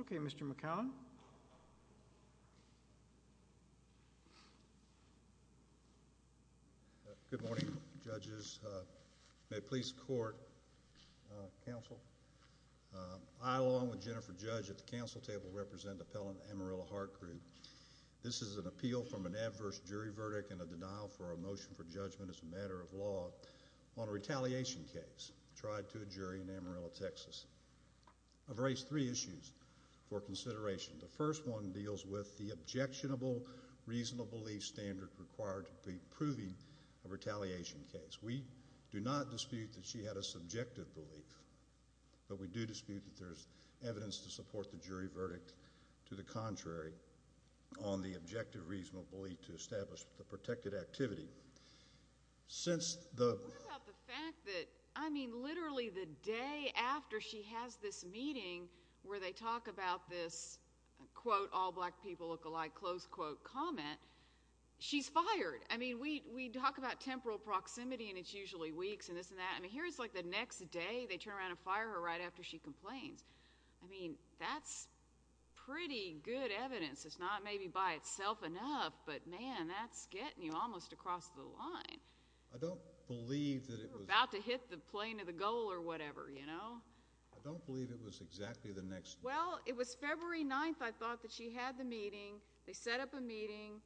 Okay, Mr. McCown. Good morning, judges. May it please the court, counsel, I along with Jennifer Judge at the counsel table represent Appellant Amarillo Heart Group. This is an appeal from an adverse jury verdict and a denial for a motion for judgment as a matter of law on a retaliation case tried to a jury in Amarillo, Texas, of race 3 issues for consideration. The first one deals with the objectionable reasonable belief standard required to be proving a retaliation case. We do not dispute that she had a subjective belief, but we do dispute that there's evidence to support the jury verdict to the contrary on the objective reasonable belief to establish the protected activity. Since the What about the fact that, I mean, literally the day after she has this meeting where they talk about this, quote, all black people look alike, close quote, comment, she's fired. I mean, we talk about temporal proximity and it's usually weeks and this and that. I mean, here it's like the next day they turn around and fire her right after she complains. I mean, that's pretty good evidence. It's not maybe by itself enough, but, man, that's getting you almost across the line. I don't believe that it was You're about to hit the plane of the goal or whatever, you know? I don't believe it was exactly the next Well, it was February 9th I thought that she had the meeting. They set up a meeting.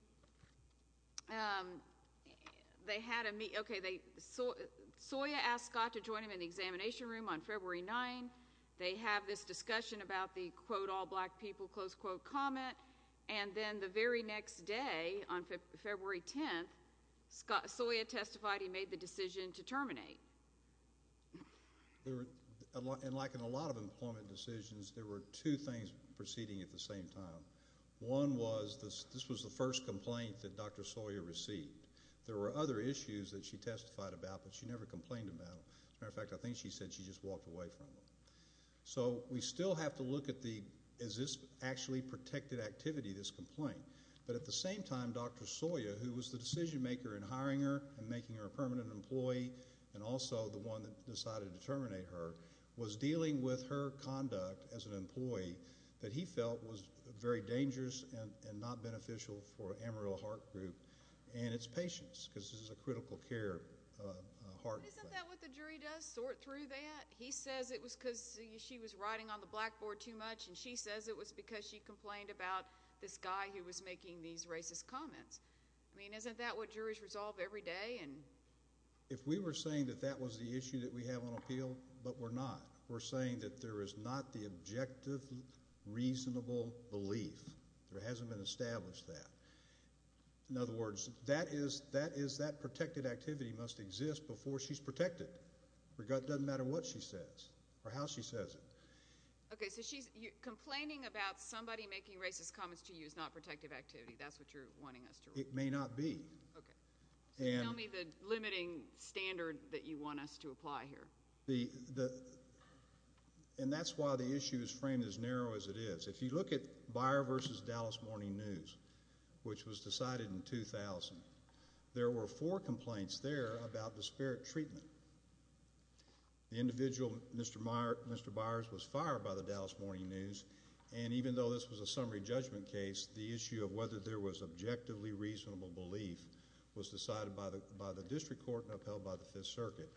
They had a meeting. Okay. Soya asked Scott to join him in the examination room on February 9th. They have this discussion about the, quote, all black people, close quote, comment, and then the very next day on February 10th, Soya testified he made the decision to terminate. And like in a lot of employment decisions, there were two things proceeding at the same time. One was this was the first complaint that Dr. Soya received. There were other issues that she testified about, but she never complained about them. As a matter of fact, I think she said she just walked away from them. So we still have to look at the is this actually protected activity, this complaint, but at the same time, Dr. Soya, who was the decision maker in hiring her and making her a permanent employee and also the one that decided to terminate her, was dealing with her conduct as an employee that he felt was very dangerous and not beneficial for Amarillo Heart Group and its patients because this is a critical care heart thing. But isn't that what the jury does sort through that? He says it was because she was writing on the blackboard too much, and she says it was because she complained about this guy who was making these racist comments. I mean, isn't that what juries resolve every day? If we were saying that that was the issue that we have on appeal, but we're not. We're saying that there is not the objective, reasonable belief, there hasn't been established that. In other words, that is that protected activity must exist before she's protected. It doesn't matter what she says or how she says it. Okay, so she's complaining about somebody making racist comments to you is not protective activity. That's what you're wanting us to rule. It may not be. Okay. So tell me the limiting standard that you want us to apply here. And that's why the issue is framed as narrow as it is. If you look at Beyer v. Dallas Morning News, which was decided in 2000, there were four complaints there about disparate treatment. The individual, Mr. Beyers, was fired by the Dallas Morning News. And even though this was a summary judgment case, the issue of whether there was objectively reasonable belief was decided by the district court and upheld by the Fifth Circuit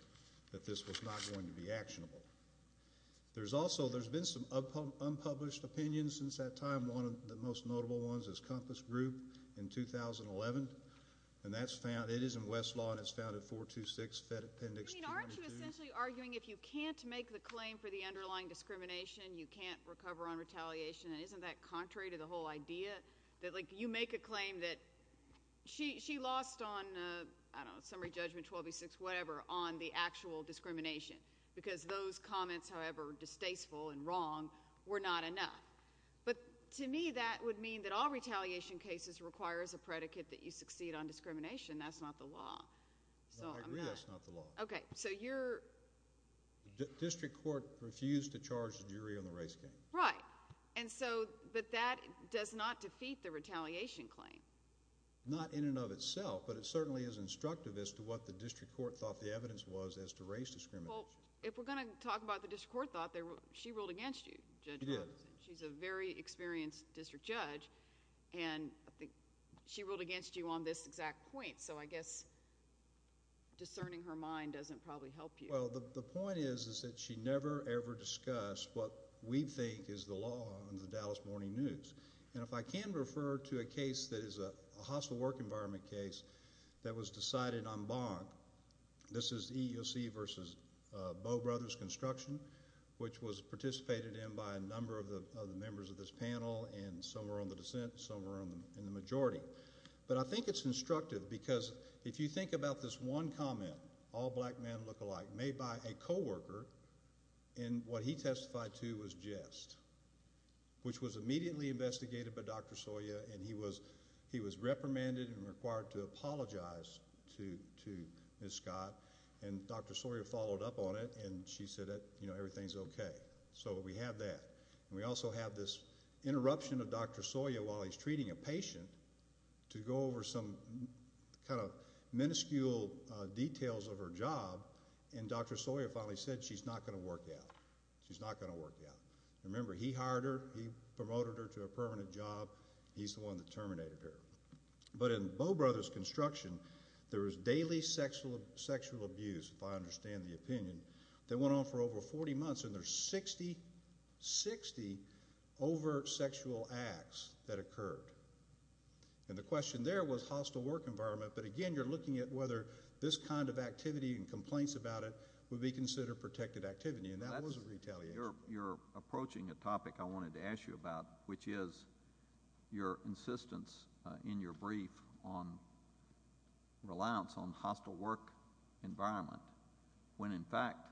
that this was not going to be actionable. There's also, there's been some unpublished opinions since that time. One of the most notable ones is Compass Group in 2011. And that's found, it is in Westlaw, and it's found in 426 Fed Appendix 2. I mean, aren't you essentially arguing if you can't make the claim for the underlying discrimination, you can't recover on retaliation? And isn't that contrary to the whole idea? That like you make a claim that she lost on, I don't know, summary judgment 1286, whatever, on the actual discrimination. Because those comments, however distasteful and wrong, were not enough. But to me, that would mean that all retaliation cases require as a predicate that you succeed on discrimination. That's not the law. So, I'm not. No, I agree that's not the law. Okay. So, you're. The district court refused to charge the jury on the race game. Right. And so, but that does not defeat the retaliation claim. Not in and of itself, but it certainly is instructive as to what the district court thought the evidence was as to race discrimination. Well, if we're going to talk about the district court thought, she ruled against you, Judge Patterson. She did. She's a very experienced district judge, and I think she ruled against you on this exact point. So, I guess discerning her mind doesn't probably help you. Well, the point is that she never ever discussed what we think is the law on the Dallas Morning News. And if I can refer to a case that is a hostile work environment case that was decided on the block, this is EEOC versus Bow Brothers Construction, which was participated in by a number of the members of this panel, and some are on the dissent, some are in the majority. But I think it's instructive because if you think about this one comment, all black men look alike, made by a coworker, and what he testified to was jest, which was immediately to Ms. Scott, and Dr. Sawyer followed up on it, and she said that everything's okay. So we have that. And we also have this interruption of Dr. Sawyer while he's treating a patient to go over some kind of minuscule details of her job, and Dr. Sawyer finally said she's not going to work out. She's not going to work out. Remember, he hired her, he promoted her to a permanent job, he's the one that terminated her. But in Bow Brothers Construction, there was daily sexual abuse, if I understand the opinion, that went on for over 40 months, and there's 60, 60 overt sexual acts that occurred. And the question there was hostile work environment, but again, you're looking at whether this kind of activity and complaints about it would be considered protected activity, and that was retaliation. You're approaching a topic I wanted to ask you about, which is your insistence in your brief on reliance on hostile work environment, when in fact,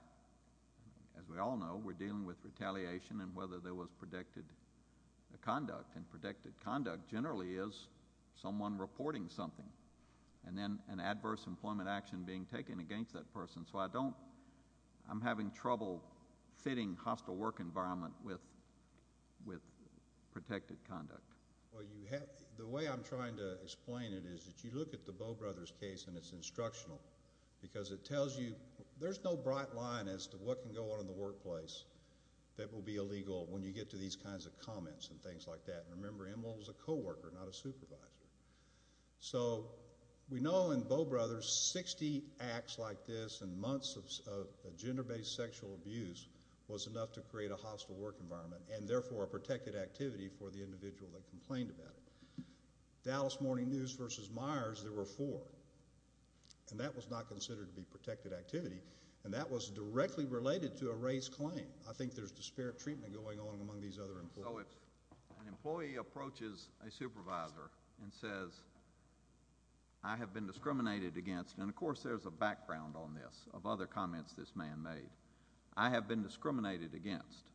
as we all know, we're dealing with retaliation, and whether there was protected conduct, and protected conduct generally is someone reporting something, and then an adverse employment action being taken against that person. So I don't, I'm having trouble fitting hostile work environment with, with protected conduct. Well, you have, the way I'm trying to explain it is that you look at the Bow Brothers case and it's instructional, because it tells you, there's no bright line as to what can go on in the workplace that will be illegal when you get to these kinds of comments and things like that. So, we know in Bow Brothers, 60 acts like this and months of gender-based sexual abuse was enough to create a hostile work environment, and therefore a protected activity for the individual that complained about it. Dallas Morning News versus Myers, there were four, and that was not considered to be protected activity, and that was directly related to a race claim. I think there's disparate treatment going on among these other employees. So if an employee approaches a supervisor and says, I have been discriminated against, and of course there's a background on this, of other comments this man made, I have been discriminated against,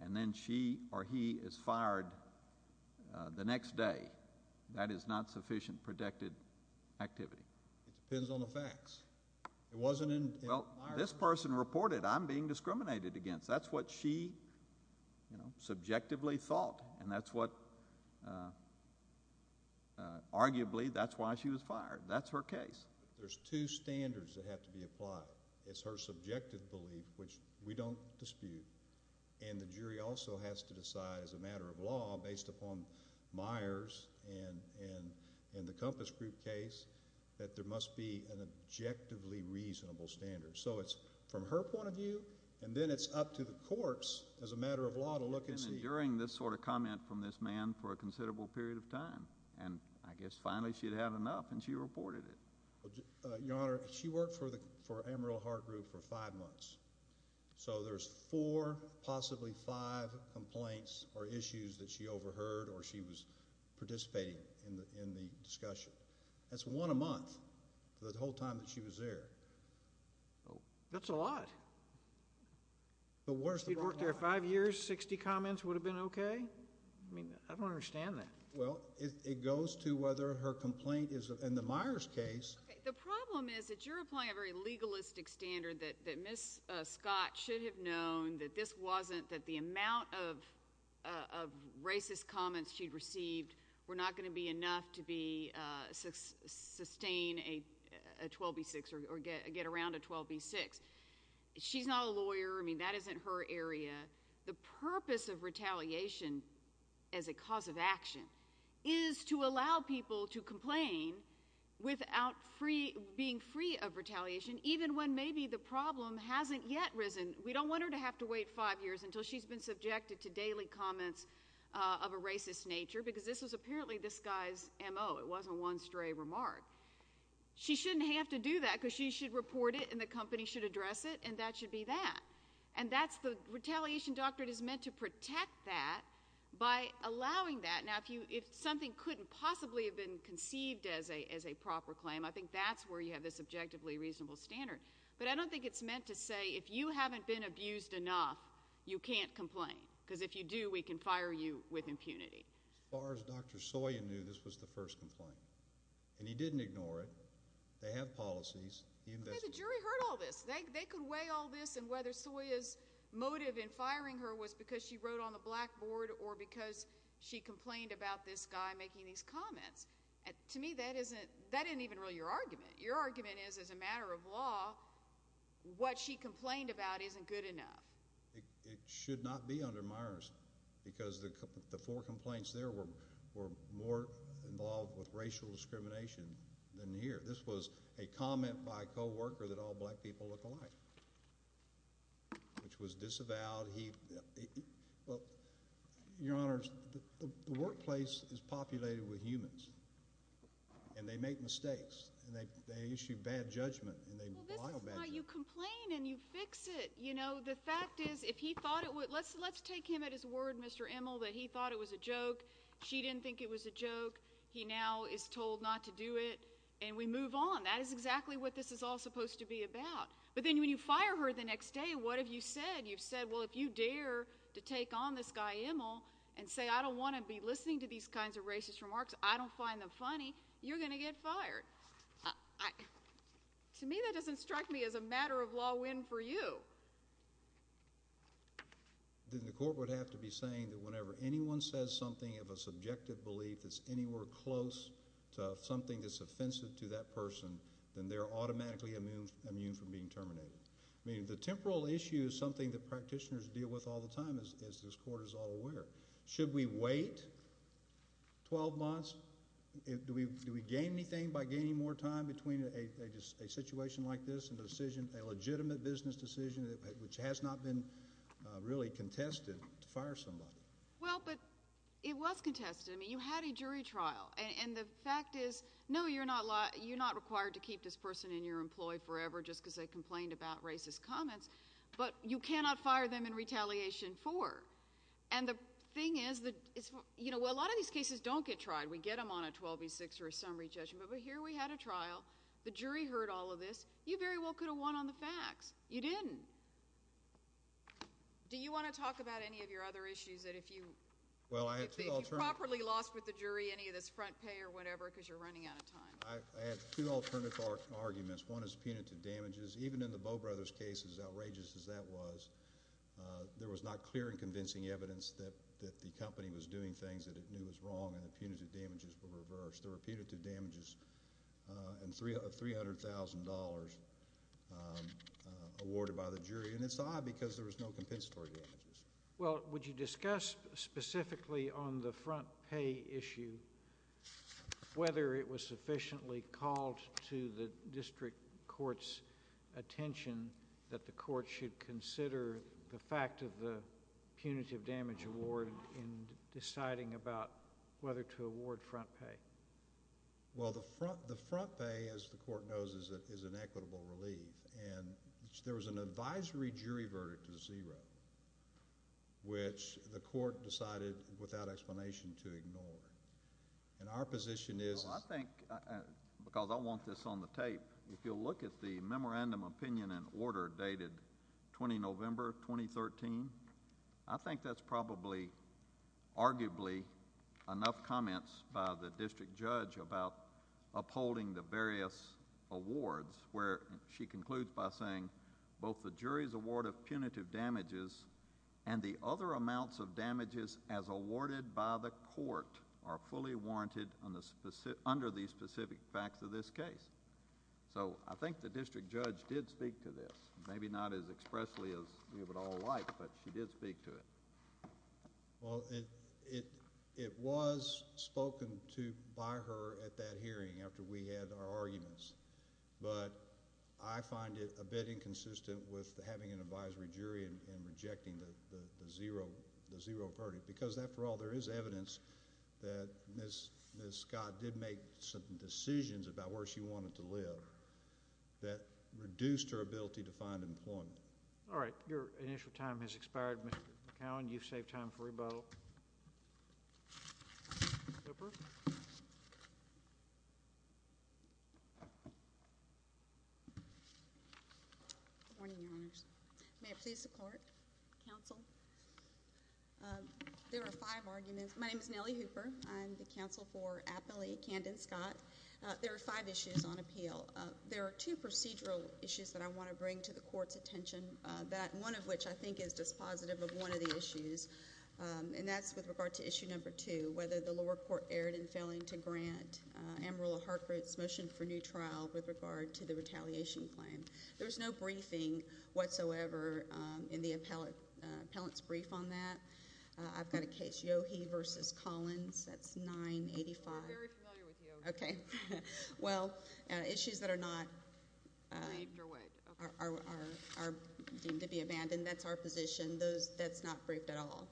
and then she or he is fired the next day, that is not sufficient protected activity. It depends on the facts. It wasn't in, in Myers. Well, this person reported, I'm being discriminated against. That's what she, you know, subjectively thought, and that's what, arguably, that's why she was fired. That's her case. There's two standards that have to be applied. It's her subjective belief, which we don't dispute, and the jury also has to decide as a matter of law based upon Myers and the Compass Group case that there must be an objectively reasonable standard. So it's from her point of view, and then it's up to the courts as a matter of law to look and see. During this sort of comment from this man for a considerable period of time, and I guess finally she'd had enough, and she reported it. Your Honor, she worked for the, for Amarillo Heart Group for five months. So there's four, possibly five complaints or issues that she overheard or she was participating in the, in the discussion. That's one a month for the whole time that she was there. That's a lot. But where's the problem? If she'd worked there five years, 60 comments would have been okay? I mean, I don't understand that. Well, it goes to whether her complaint is, in the Myers case. The problem is that you're applying a very legalistic standard that Ms. Scott should have known that this wasn't, that the amount of racist comments she'd received were not going to be enough to be, sustain a 12B6 or get around a 12B6. She's not a lawyer. I mean, that isn't her area. The purpose of retaliation as a cause of action is to allow people to complain without free, being free of retaliation, even when maybe the problem hasn't yet risen. We don't want her to have to wait five years until she's been subjected to daily comments of a racist nature, because this was apparently this guy's M.O. It wasn't one stray remark. She shouldn't have to do that, because she should report it, and the company should address it, and that should be that. And that's the, retaliation doctrine is meant to protect that by allowing that. Now, if you, if something couldn't possibly have been conceived as a, as a proper claim, I think that's where you have this objectively reasonable standard. But I don't think it's meant to say, if you haven't been abused enough, you can't complain. Because if you do, we can fire you with impunity. As far as Dr. Soya knew, this was the first complaint. And he didn't ignore it. They have policies. He investigated. Okay, the jury heard all this. They, they could weigh all this, and whether Soya's motive in firing her was because she wrote on the blackboard, or because she complained about this guy making these comments. To me, that isn't, that isn't even really your argument. Your argument is, as a matter of law, what she complained about isn't good enough. It, it should not be under Myers, because the, the four complaints there were, were more involved with racial discrimination than here. This was a comment by a co-worker that all black people look alike, which was disavowed. He, well, Your Honors, the, the workplace is populated with humans. And they make mistakes. And they, they issue bad judgment, and they lie about it. Well, this is why you complain, and you fix it. You know, the fact is, if he thought it would, let's, let's take him at his word, Mr. Immel, that he thought it was a joke. She didn't think it was a joke. He now is told not to do it. And we move on. That is exactly what this is all supposed to be about. But then, when you fire her the next day, what have you said? You've said, well, if you dare to take on this guy, Immel, and say, I don't want to be listening to these kinds of racist remarks, I don't find them funny, you're going to get fired. I, to me, that doesn't strike me as a matter of law win for you. Then the court would have to be saying that whenever anyone says something of a subjective belief that's anywhere close to something that's offensive to that person, then they're automatically immune, immune from being terminated. I mean, the temporal issue is something that practitioners deal with all the time, as, as this court is all aware. Should we wait 12 months? Do we gain anything by gaining more time between a situation like this and a decision, a legitimate business decision, which has not been really contested, to fire somebody? Well, but it was contested. I mean, you had a jury trial. And the fact is, no, you're not, you're not required to keep this person in your employ forever, just because they complained about racist comments. But you cannot fire them in retaliation for. And the thing is that, you know, a lot of these cases don't get tried. We get them on a 12 v. 6 or a summary judgment. But here we had a trial. The jury heard all of this. You very well could have won on the facts. You didn't. Do you want to talk about any of your other issues that if you, if you properly lost with the jury, any of this front pay or whatever, because you're running out of time? I have two alternative arguments. One is punitive damages. Even in the Bowe brothers' case, as outrageous as that was, there was not clear and convincing evidence that the company was doing things that it knew was wrong and that punitive damages were reversed. There were punitive damages and $300,000 awarded by the jury. And it's odd because there was no compensatory damages. Well, would you discuss specifically on the front pay issue whether it was sufficiently called to the district court's attention that the court should consider the fact of the punitive damage award in deciding about whether to award front pay? Well, the front pay, as the court knows, is an equitable relief. And there was an advisory jury verdict of zero, which the court decided without explanation to ignore. And our position is... Well, I think, because I want this on the tape, if you'll look at the memorandum opinion and order dated 20 November, 2013, I think that's probably, arguably, enough comments by the district judge about upholding the various awards where she concludes by saying both the jury's award of punitive damages and the other amounts of damages as awarded by the court are fully warranted under the specific facts of this case. So, I think the district judge did speak to this. Maybe not as expressly as we would all like, but she did speak to it. Well, it was spoken to by her at that hearing after we had our arguments. But I find it a bit inconsistent with having an advisory jury and rejecting the zero verdict because, after all, there is evidence that Ms. Scott did make some decisions about where she wanted to live that reduced her ability to find employment. All right. Your initial time has expired, Mr. McCowan. You've saved time for rebuttal. Hooper? Good morning, Your Honors. May it please the Court, Counsel? There are five arguments. My name is Nellie Hooper. I'm the counsel for Appellee Candon Scott. There are five issues on appeal. There are two procedural issues that I want to bring to the Court's attention, one of which I think is dispositive of one of the issues, and that's with regard to issue number two, whether the lower court erred in failing to grant Amarillo-Hartford's motion for new trial with regard to the retaliation claim. There was no briefing whatsoever in the appellant's brief on that. I've got a case, Yohe v. Collins. That's 985. We're very familiar with Yohe. Okay. Well, issues that are not are deemed to be abandoned. That's our position. That's not briefed at all.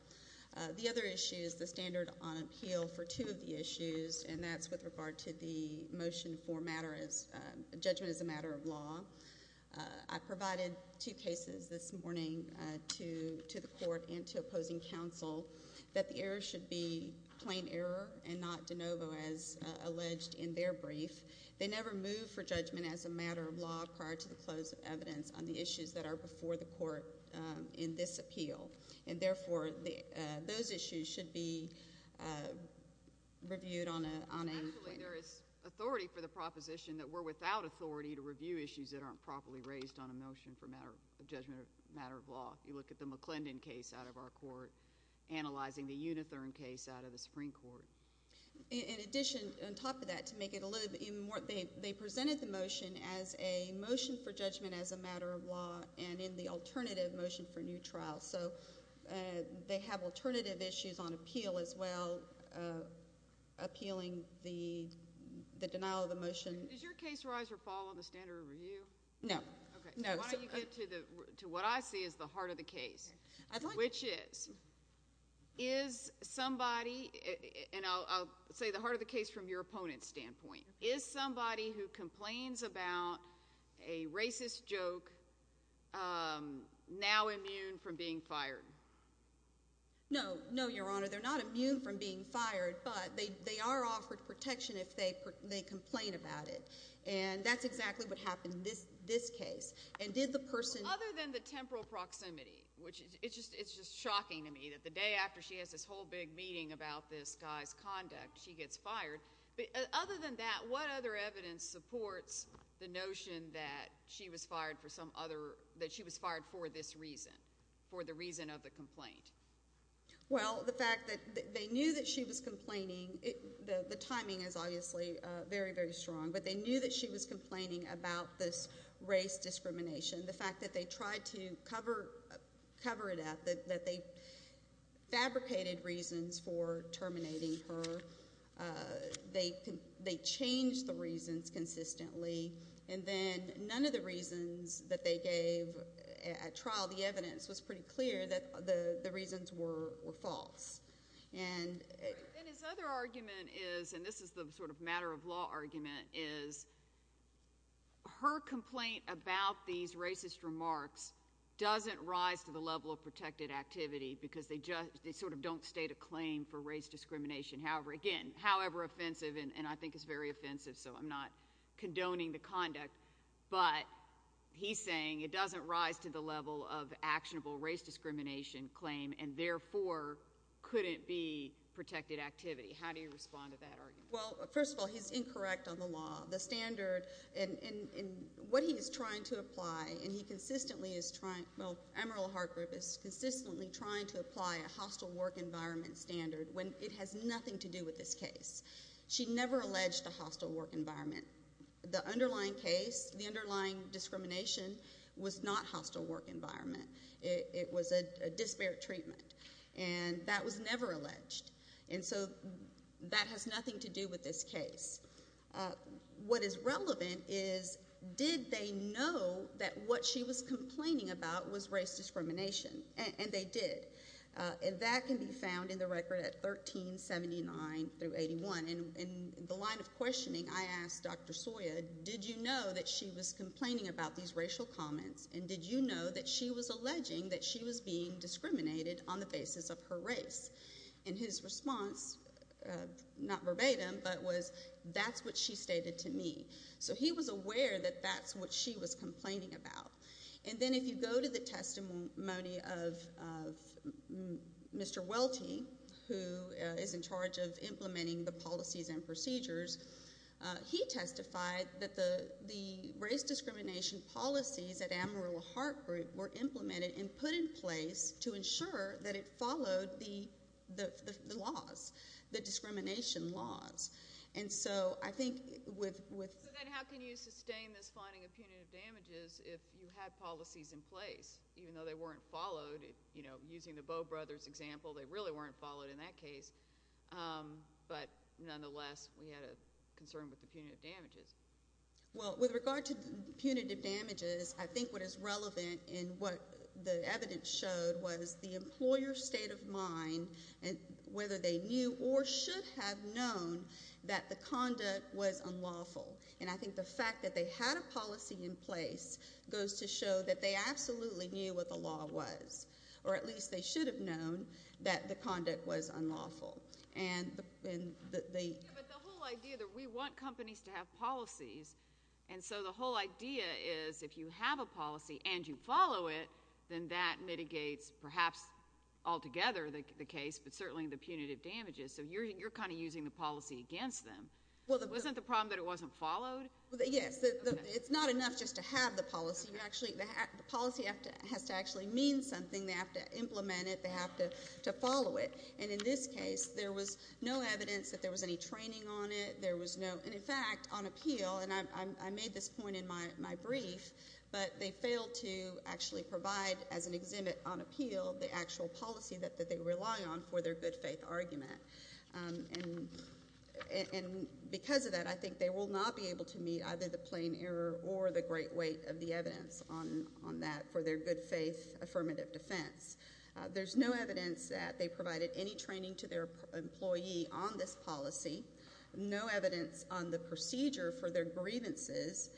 The other issue is the standard on appeal for two of the issues, and that's with regard to the motion for judgment as a matter of law. I provided two cases this morning to the Court and to opposing counsel that the errors should be plain error and not de novo as alleged in their brief. They never move for judgment as a matter of law prior to the close of evidence on the issues that are before the Court in this appeal, and therefore those issues should be reviewed on a plain. Actually, there is authority for the proposition that we're without authority to review issues that aren't properly raised on a motion for a matter of judgment or a matter of law. You look at the McClendon case out of our Court, analyzing the Unithurn case out of the Supreme Court. In addition, on top of that, to make it a little bit even more, they presented the motion as a motion for judgment as a matter of law and in the alternative motion for new trial. So they have alternative issues on appeal as well, appealing the denial of the motion. Does your case rise or fall on the standard of review? No. Okay, so why don't you get to what I see as the heart of the case, which is, is somebody, and I'll say the heart of the case from your opponent's standpoint, is somebody who complains about a racist joke now immune from being fired? No, no, Your Honor. They're not immune from being fired, but they are offered protection if they complain about it, and that's exactly what happened in this case. Other than the temporal proximity, which it's just shocking to me that the day after she has this whole big meeting about this guy's conduct, she gets fired. Other than that, what other evidence supports the notion that she was fired for this reason, for the reason of the complaint? Well, the fact that they knew that she was complaining, the timing is obviously very, very strong, but they knew that she was complaining about this race discrimination. The fact that they tried to cover it up, that they fabricated reasons for terminating her. They changed the reasons consistently, and then none of the reasons that they gave at trial, the evidence was pretty clear that the reasons were false. And his other argument is, and this is the sort of matter-of-law argument, is her complaint about these racist remarks doesn't rise to the level of protected activity because they sort of don't state a claim for race discrimination. Again, however offensive, and I think it's very offensive, so I'm not condoning the conduct, but he's saying it doesn't rise to the level of actionable race discrimination claim and therefore couldn't be protected activity. How do you respond to that argument? Well, first of all, he's incorrect on the law. The standard, and what he is trying to apply, and he consistently is trying, well, Emerald Heart Group is consistently trying to apply a hostile work environment standard when it has nothing to do with this case. She never alleged a hostile work environment. The underlying case, the underlying discrimination was not hostile work environment. It was a disparate treatment, and that was never alleged. And so that has nothing to do with this case. What is relevant is, did they know that what she was complaining about was race discrimination? And they did. And that can be found in the record at 1379 through 81. In the line of questioning, I asked Dr. Sawyer, did you know that she was complaining about these racial comments, and did you know that she was alleging that she was being discriminated on the basis of her race? And his response, not verbatim, but was, that's what she stated to me. So he was aware that that's what she was complaining about. And then if you go to the testimony of Mr. Welty, who is in charge of implementing the policies and procedures, he testified that the race discrimination policies at Amarillo Heart Group were implemented and put in place to ensure that it followed the laws, the discrimination laws. And so I think with ‑‑ So then how can you sustain this finding of punitive damages if you had policies in place, even though they weren't followed? Using the Bowe brothers' example, they really weren't followed in that case. But nonetheless, we had a concern with the punitive damages. Well, with regard to punitive damages, I think what is relevant in what the evidence showed was the employer's state of mind, whether they knew or should have known that the conduct was unlawful. And I think the fact that they had a policy in place goes to show that they absolutely knew what the law was, or at least they should have known that the conduct was unlawful. But the whole idea that we want companies to have policies, and so the whole idea is if you have a policy and you follow it, then that mitigates perhaps altogether the case, but certainly the punitive damages. So you're kind of using the policy against them. Wasn't the problem that it wasn't followed? Yes. It's not enough just to have the policy. The policy has to actually mean something. They have to implement it. They have to follow it. And in this case, there was no evidence that there was any training on it. And in fact, on appeal, and I made this point in my brief, but they failed to actually provide as an exhibit on appeal the actual policy that they rely on for their good faith argument. And because of that, I think they will not be able to meet either the plain error or the great weight of the evidence on that for their good faith affirmative defense. There's no evidence that they provided any training to their employee on this policy, no evidence on the procedure for their grievances.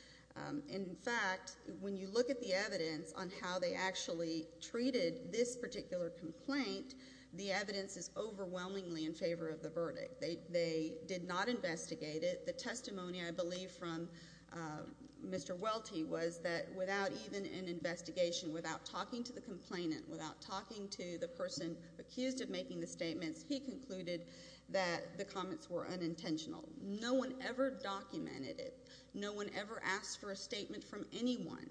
In fact, when you look at the evidence on how they actually treated this particular complaint, the evidence is overwhelmingly in favor of the verdict. They did not investigate it. The testimony, I believe, from Mr. Welty was that without even an investigation, without talking to the complainant, without talking to the person accused of making the statements, he concluded that the comments were unintentional. No one ever documented it. No one ever asked for a statement from anyone.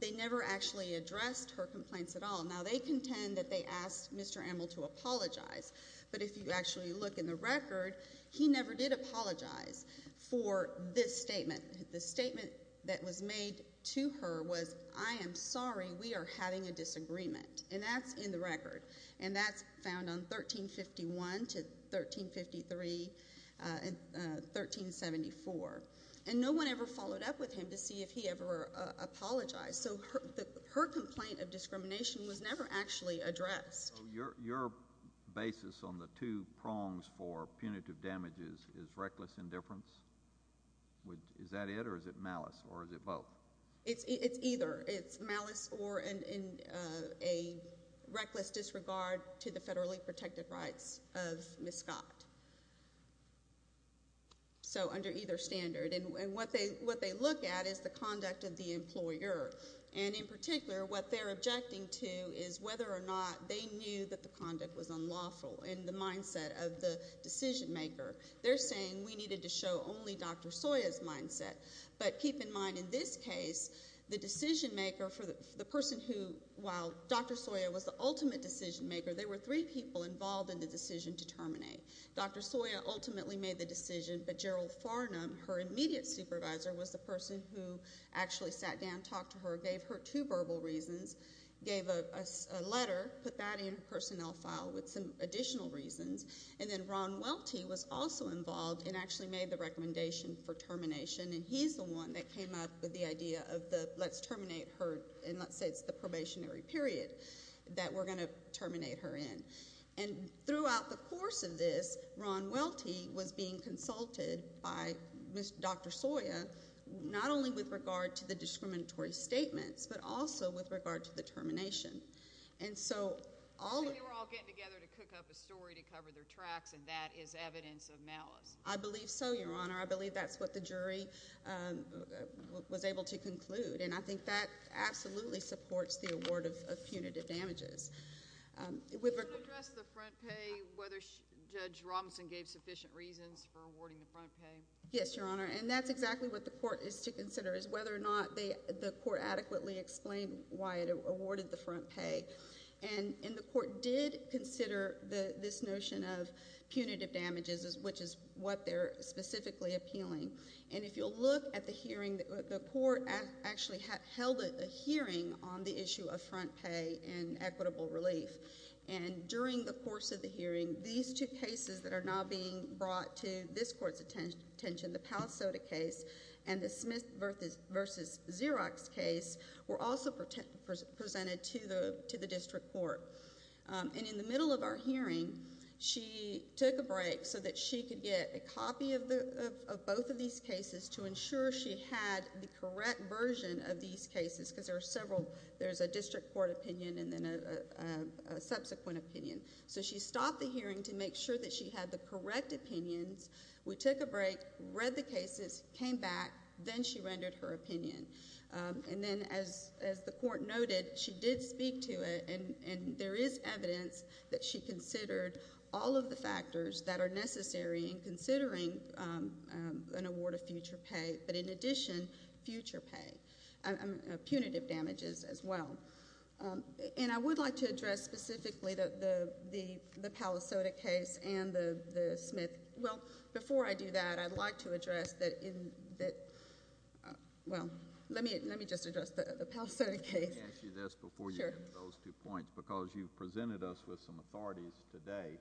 They never actually addressed her complaints at all. Now, they contend that they asked Mr. Emmel to apologize, but if you actually look in the record, he never did apologize for this statement. The statement that was made to her was, I am sorry, we are having a disagreement. And that's in the record, and that's found on 1351 to 1353 and 1374. And no one ever followed up with him to see if he ever apologized. So her complaint of discrimination was never actually addressed. So your basis on the two prongs for punitive damages is reckless indifference? Is that it, or is it malice, or is it both? It's either. It's malice or a reckless disregard to the federally protected rights of Ms. Scott. So under either standard. And what they look at is the conduct of the employer. And in particular, what they're objecting to is whether or not they knew that the conduct was unlawful in the mindset of the decision maker. They're saying we needed to show only Dr. Soya's mindset. But keep in mind, in this case, the decision maker for the person who, while Dr. Soya was the ultimate decision maker, there were three people involved in the decision to terminate. Dr. Soya ultimately made the decision, but Gerald Farnham, her immediate supervisor, was the person who actually sat down, talked to her, gave her two verbal reasons, gave a letter, put that in her personnel file with some additional reasons. And then Ron Welty was also involved and actually made the recommendation for termination. And he's the one that came up with the idea of the let's terminate her and let's say it's the probationary period that we're going to terminate her in. And throughout the course of this, Ron Welty was being consulted by Dr. Soya, not only with regard to the discriminatory statements, but also with regard to the termination. And so all— So they were all getting together to cook up a story to cover their tracks, and that is evidence of malice. I believe so, Your Honor. I believe that's what the jury was able to conclude. And I think that absolutely supports the award of punitive damages. Can you address the front pay, whether Judge Robinson gave sufficient reasons for awarding the front pay? Yes, Your Honor. And that's exactly what the court is to consider, is whether or not the court adequately explained why it awarded the front pay. And the court did consider this notion of punitive damages, which is what they're specifically appealing. And if you'll look at the hearing, the court actually held a hearing on the issue of front pay and equitable relief. And during the course of the hearing, these two cases that are now being brought to this court's attention, the Palo Soto case and the Smith v. Xerox case, were also presented to the district court. And in the middle of our hearing, she took a break so that she could get a copy of both of these cases to ensure she had the correct version of these cases, because there's a district court opinion and then a subsequent opinion. So she stopped the hearing to make sure that she had the correct opinions. We took a break, read the cases, came back, then she rendered her opinion. And then, as the court noted, she did speak to it, and there is evidence that she considered all of the factors that are necessary in considering an award of future pay, but in addition, future pay. Punitive damages as well. And I would like to address specifically the Palo Soto case and the Smith. Well, before I do that, I'd like to address that, well, let me just address the Palo Soto case. Let me ask you this before you get to those two points, because you've presented us with some authorities today.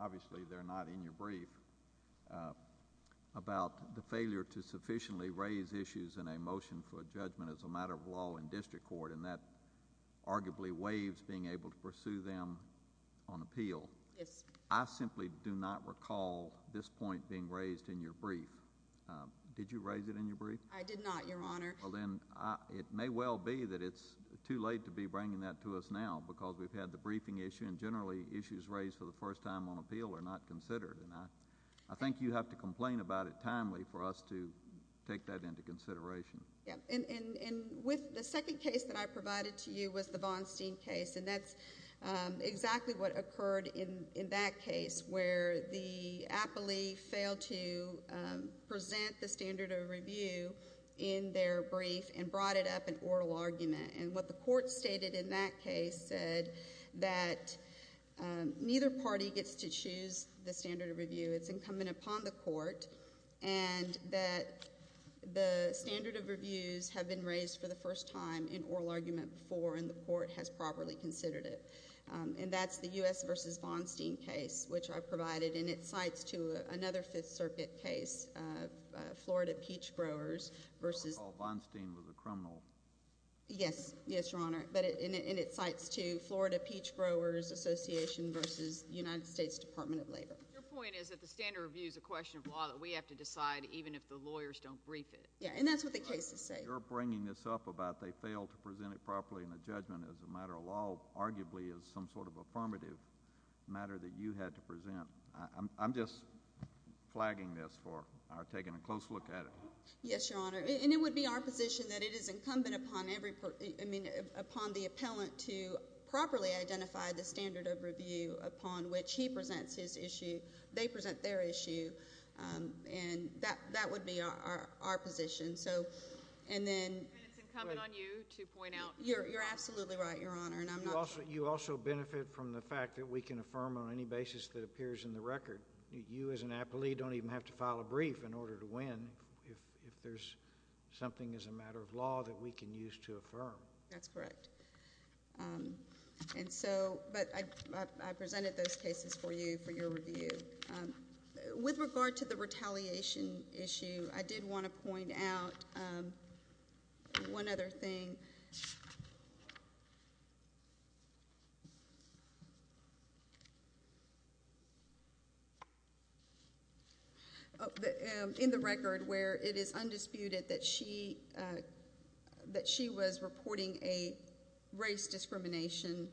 Obviously, they're not in your brief, about the failure to sufficiently raise issues in a motion for judgment as a matter of law in district court, and that arguably waives being able to pursue them on appeal. Yes. I simply do not recall this point being raised in your brief. Did you raise it in your brief? I did not, Your Honor. Well, then, it may well be that it's too late to be bringing that to us now, because we've had the briefing issue, and generally issues raised for the first time on appeal are not considered. And I think you have to complain about it timely for us to take that into consideration. And with the second case that I provided to you was the Von Steen case, and that's exactly what occurred in that case, where the appellee failed to present the standard of review in their brief and brought it up in oral argument. And what the court stated in that case said that neither party gets to choose the standard of review. It's incumbent upon the court, and that the standard of reviews have been raised for the first time in oral argument before, and the court has properly considered it. And that's the U.S. v. Von Steen case, which I provided in its sites to another Fifth Circuit case, Florida Peach Growers v. I recall Von Steen was a criminal. Yes. Yes, Your Honor. But in its sites to Florida Peach Growers Association v. United States Department of Labor. Your point is that the standard of review is a question of law that we have to decide, even if the lawyers don't brief it. Yeah, and that's what the cases say. You're bringing this up about they failed to present it properly in a judgment as a matter of law, arguably as some sort of affirmative matter that you had to present. I'm just flagging this for taking a close look at it. Yes, Your Honor. And it would be our position that it is incumbent upon the appellant to properly identify the standard of review upon which he presents his issue, they present their issue, and that would be our position. And it's incumbent on you to point out. You're absolutely right, Your Honor. You also benefit from the fact that we can affirm on any basis that appears in the record. You, as an appellee, don't even have to file a brief in order to win if there's something as a matter of law that we can use to affirm. That's correct. And so I presented those cases for you for your review. With regard to the retaliation issue, I did want to point out one other thing. In the record where it is undisputed that she was reporting a race discrimination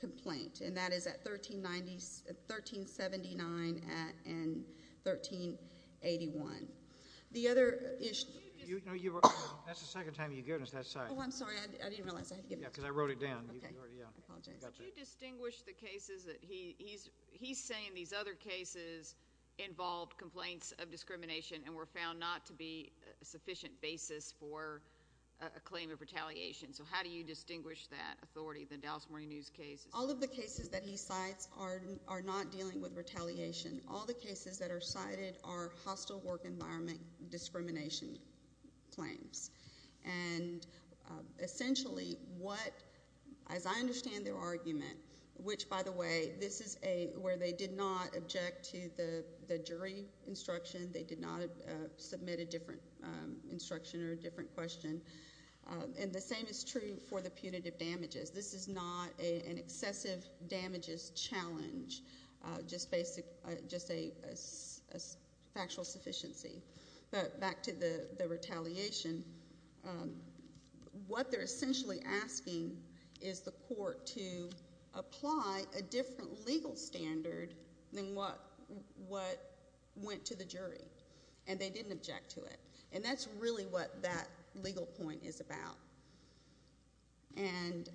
complaint, and that is at 1379 and 1381. That's the second time you've given us that cite. Oh, I'm sorry. I didn't realize I had to give it to you. Yeah, because I wrote it down. Okay. I apologize. Could you distinguish the cases that he's saying these other cases involved complaints of discrimination and were found not to be a sufficient basis for a claim of retaliation? So how do you distinguish that authority, the Dallas Morning News case? All of the cases that he cites are not dealing with retaliation. All the cases that are cited are hostile work environment discrimination claims. And essentially, as I understand their argument, which, by the way, this is where they did not object to the jury instruction. They did not submit a different instruction or a different question. And the same is true for the punitive damages. This is not an excessive damages challenge, just a factual sufficiency. But back to the retaliation, what they're essentially asking is the court to apply a different legal standard than what went to the jury. And they didn't object to it. And that's really what that legal point is about. And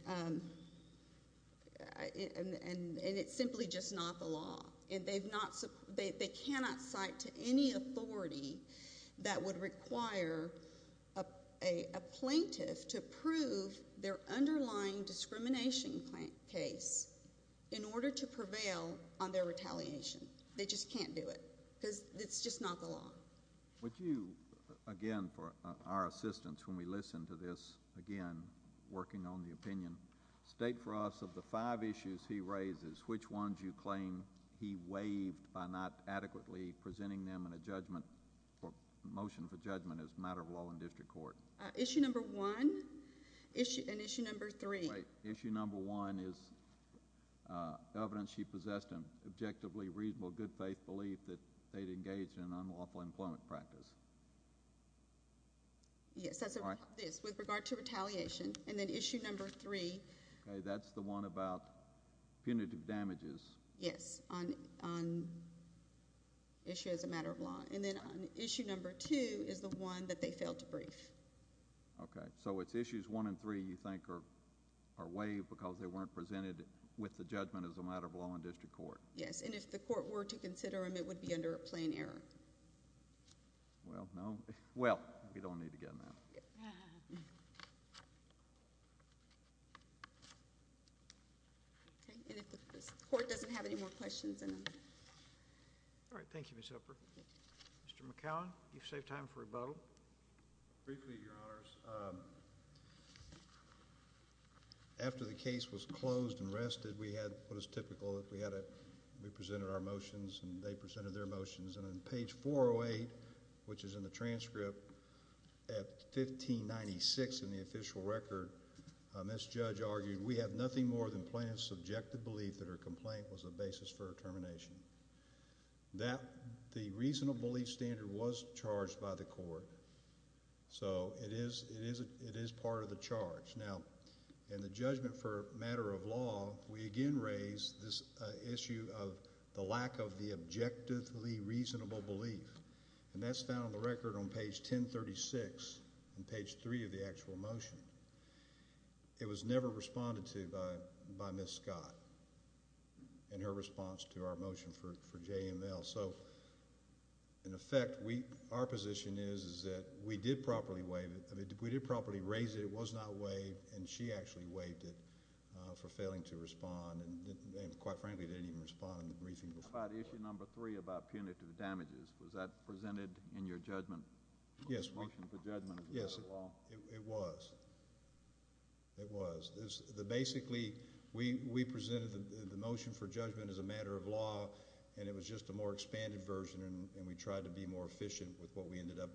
it's simply just not the law. They cannot cite to any authority that would require a plaintiff to prove their underlying discrimination case in order to prevail on their retaliation. They just can't do it because it's just not the law. Would you, again, for our assistance when we listen to this, again, working on the opinion, state for us of the five issues he raises, which ones you claim he waived by not adequately presenting them in a judgment or motion for judgment as a matter of law in district court? Issue number one and issue number three. Great. Issue number one is evidence she possessed an objectively reasonable good faith belief that they'd engaged in an unlawful employment practice. Yes, that's what this is with regard to retaliation. And then issue number three. Okay, that's the one about punitive damages. Yes, on issue as a matter of law. Okay, so it's issues one and three you think are waived because they weren't presented with the judgment as a matter of law in district court. Yes, and if the court were to consider them, it would be under a plain error. Well, no. Well, we don't need to get in that. Okay, and if the court doesn't have any more questions, then... All right, thank you, Ms. Hepburn. Mr. McCowan, you've saved time for rebuttal. Briefly, Your Honors. After the case was closed and rested, we had what is typical that we presented our motions and they presented their motions. And on page 408, which is in the transcript, at 1596 in the official record, Ms. Judge argued we have nothing more than plain and subjective belief that her complaint was a basis for her termination. The reasonable belief standard was charged by the court, so it is part of the charge. Now, in the judgment for a matter of law, we again raise this issue of the lack of the objectively reasonable belief. And that's found on the record on page 1036 in page three of the actual motion. It was never responded to by Ms. Scott in her response to our motion for JML. So, in effect, our position is that we did properly raise it. It was not waived, and she actually waived it for failing to respond and, quite frankly, didn't even respond in the briefing. How about issue number three about punitive damages? Was that presented in your judgment? Yes, it was. It was. Basically, we presented the motion for judgment as a matter of law, and it was just a more expanded version, and we tried to be more efficient with what we ended up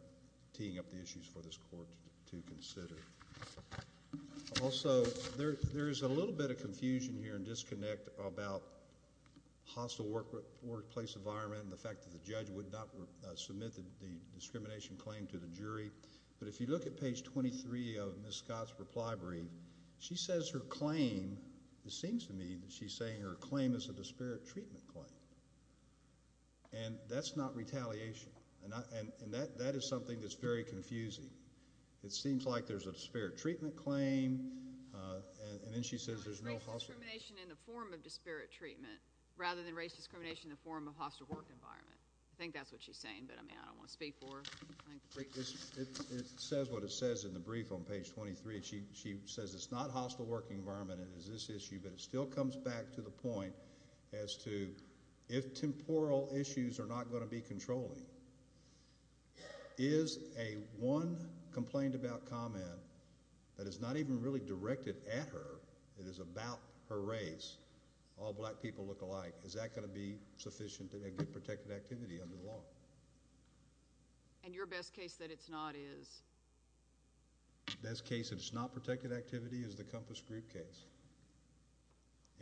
teeing up the issues for this court to consider. Also, there is a little bit of confusion here and disconnect about hostile workplace environment and the fact that the judge would not submit the discrimination claim to the jury. But if you look at page 23 of Ms. Scott's reply brief, she says her claim, it seems to me that she's saying her claim is a disparate treatment claim, and that's not retaliation. And that is something that's very confusing. It seems like there's a disparate treatment claim, and then she says there's no hostile work environment. So it's racial discrimination in the form of disparate treatment rather than racial discrimination in the form of hostile work environment. I think that's what she's saying, but, I mean, I don't want to speak for her. It says what it says in the brief on page 23. She says it's not hostile work environment. It is this issue, but it still comes back to the point as to if temporal issues are not going to be controlling, is a one complained about comment that is not even really directed at her, it is about her race, all black people look alike, is that going to be sufficient to get protected activity under the law? And your best case that it's not is? Best case that it's not protected activity is the Compass Group case.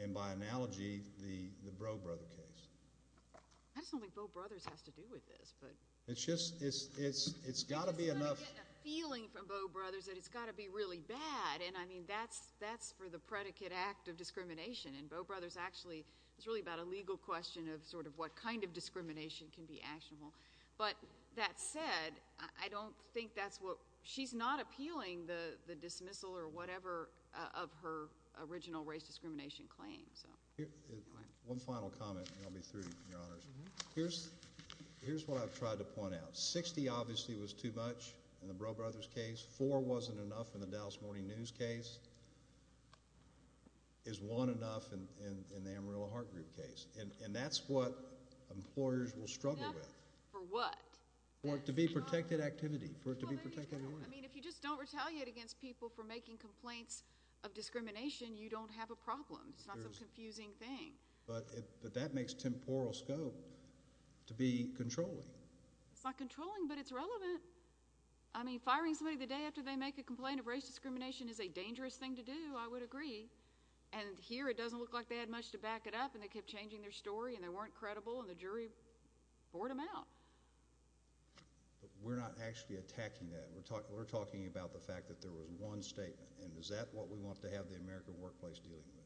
And by analogy, the Bro Brothers case. I just don't think Bro Brothers has to do with this, but. It's just, it's got to be enough. I'm starting to get the feeling from Bro Brothers that it's got to be really bad, and, I mean, that's for the predicate act of discrimination, and Bro Brothers actually, it's really about a legal question of sort of what kind of discrimination can be actionable. But that said, I don't think that's what, she's not appealing the dismissal or whatever of her original race discrimination claims. One final comment, and I'll be through, Your Honors. Here's what I've tried to point out. Sixty obviously was too much in the Bro Brothers case. Four wasn't enough in the Dallas Morning News case. Is one enough in the Amarillo Heart Group case. And that's what employers will struggle with. For what? For it to be protected activity. I mean, if you just don't retaliate against people for making complaints of discrimination, you don't have a problem. It's not some confusing thing. But that makes temporal scope to be controlling. It's not controlling, but it's relevant. I mean, firing somebody the day after they make a complaint of race discrimination is a dangerous thing to do, I would agree. And here it doesn't look like they had much to back it up, and they kept changing their story, and they weren't credible, and the jury bored them out. But we're not actually attacking that. We're talking about the fact that there was one statement, and is that what we want to have the American workplace dealing with?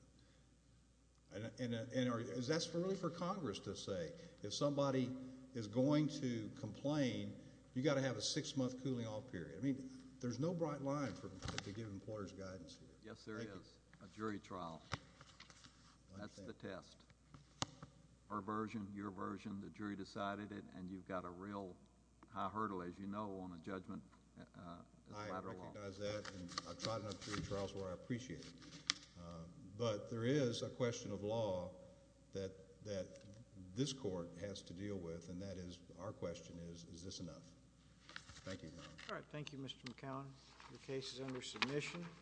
And that's really for Congress to say. If somebody is going to complain, you've got to have a six-month cooling-off period. I mean, there's no bright line to give employers guidance here. Yes, there is. A jury trial. That's the test. Our version, your version, the jury decided it, and you've got a real high hurdle, as you know, on the judgment as a matter of law. I recognize that, and I've tried enough jury trials where I appreciate it. But there is a question of law that this court has to deal with, and that is, our question is, is this enough? Thank you, Your Honor. All right. Thank you, Mr. McCown. The case is under submission.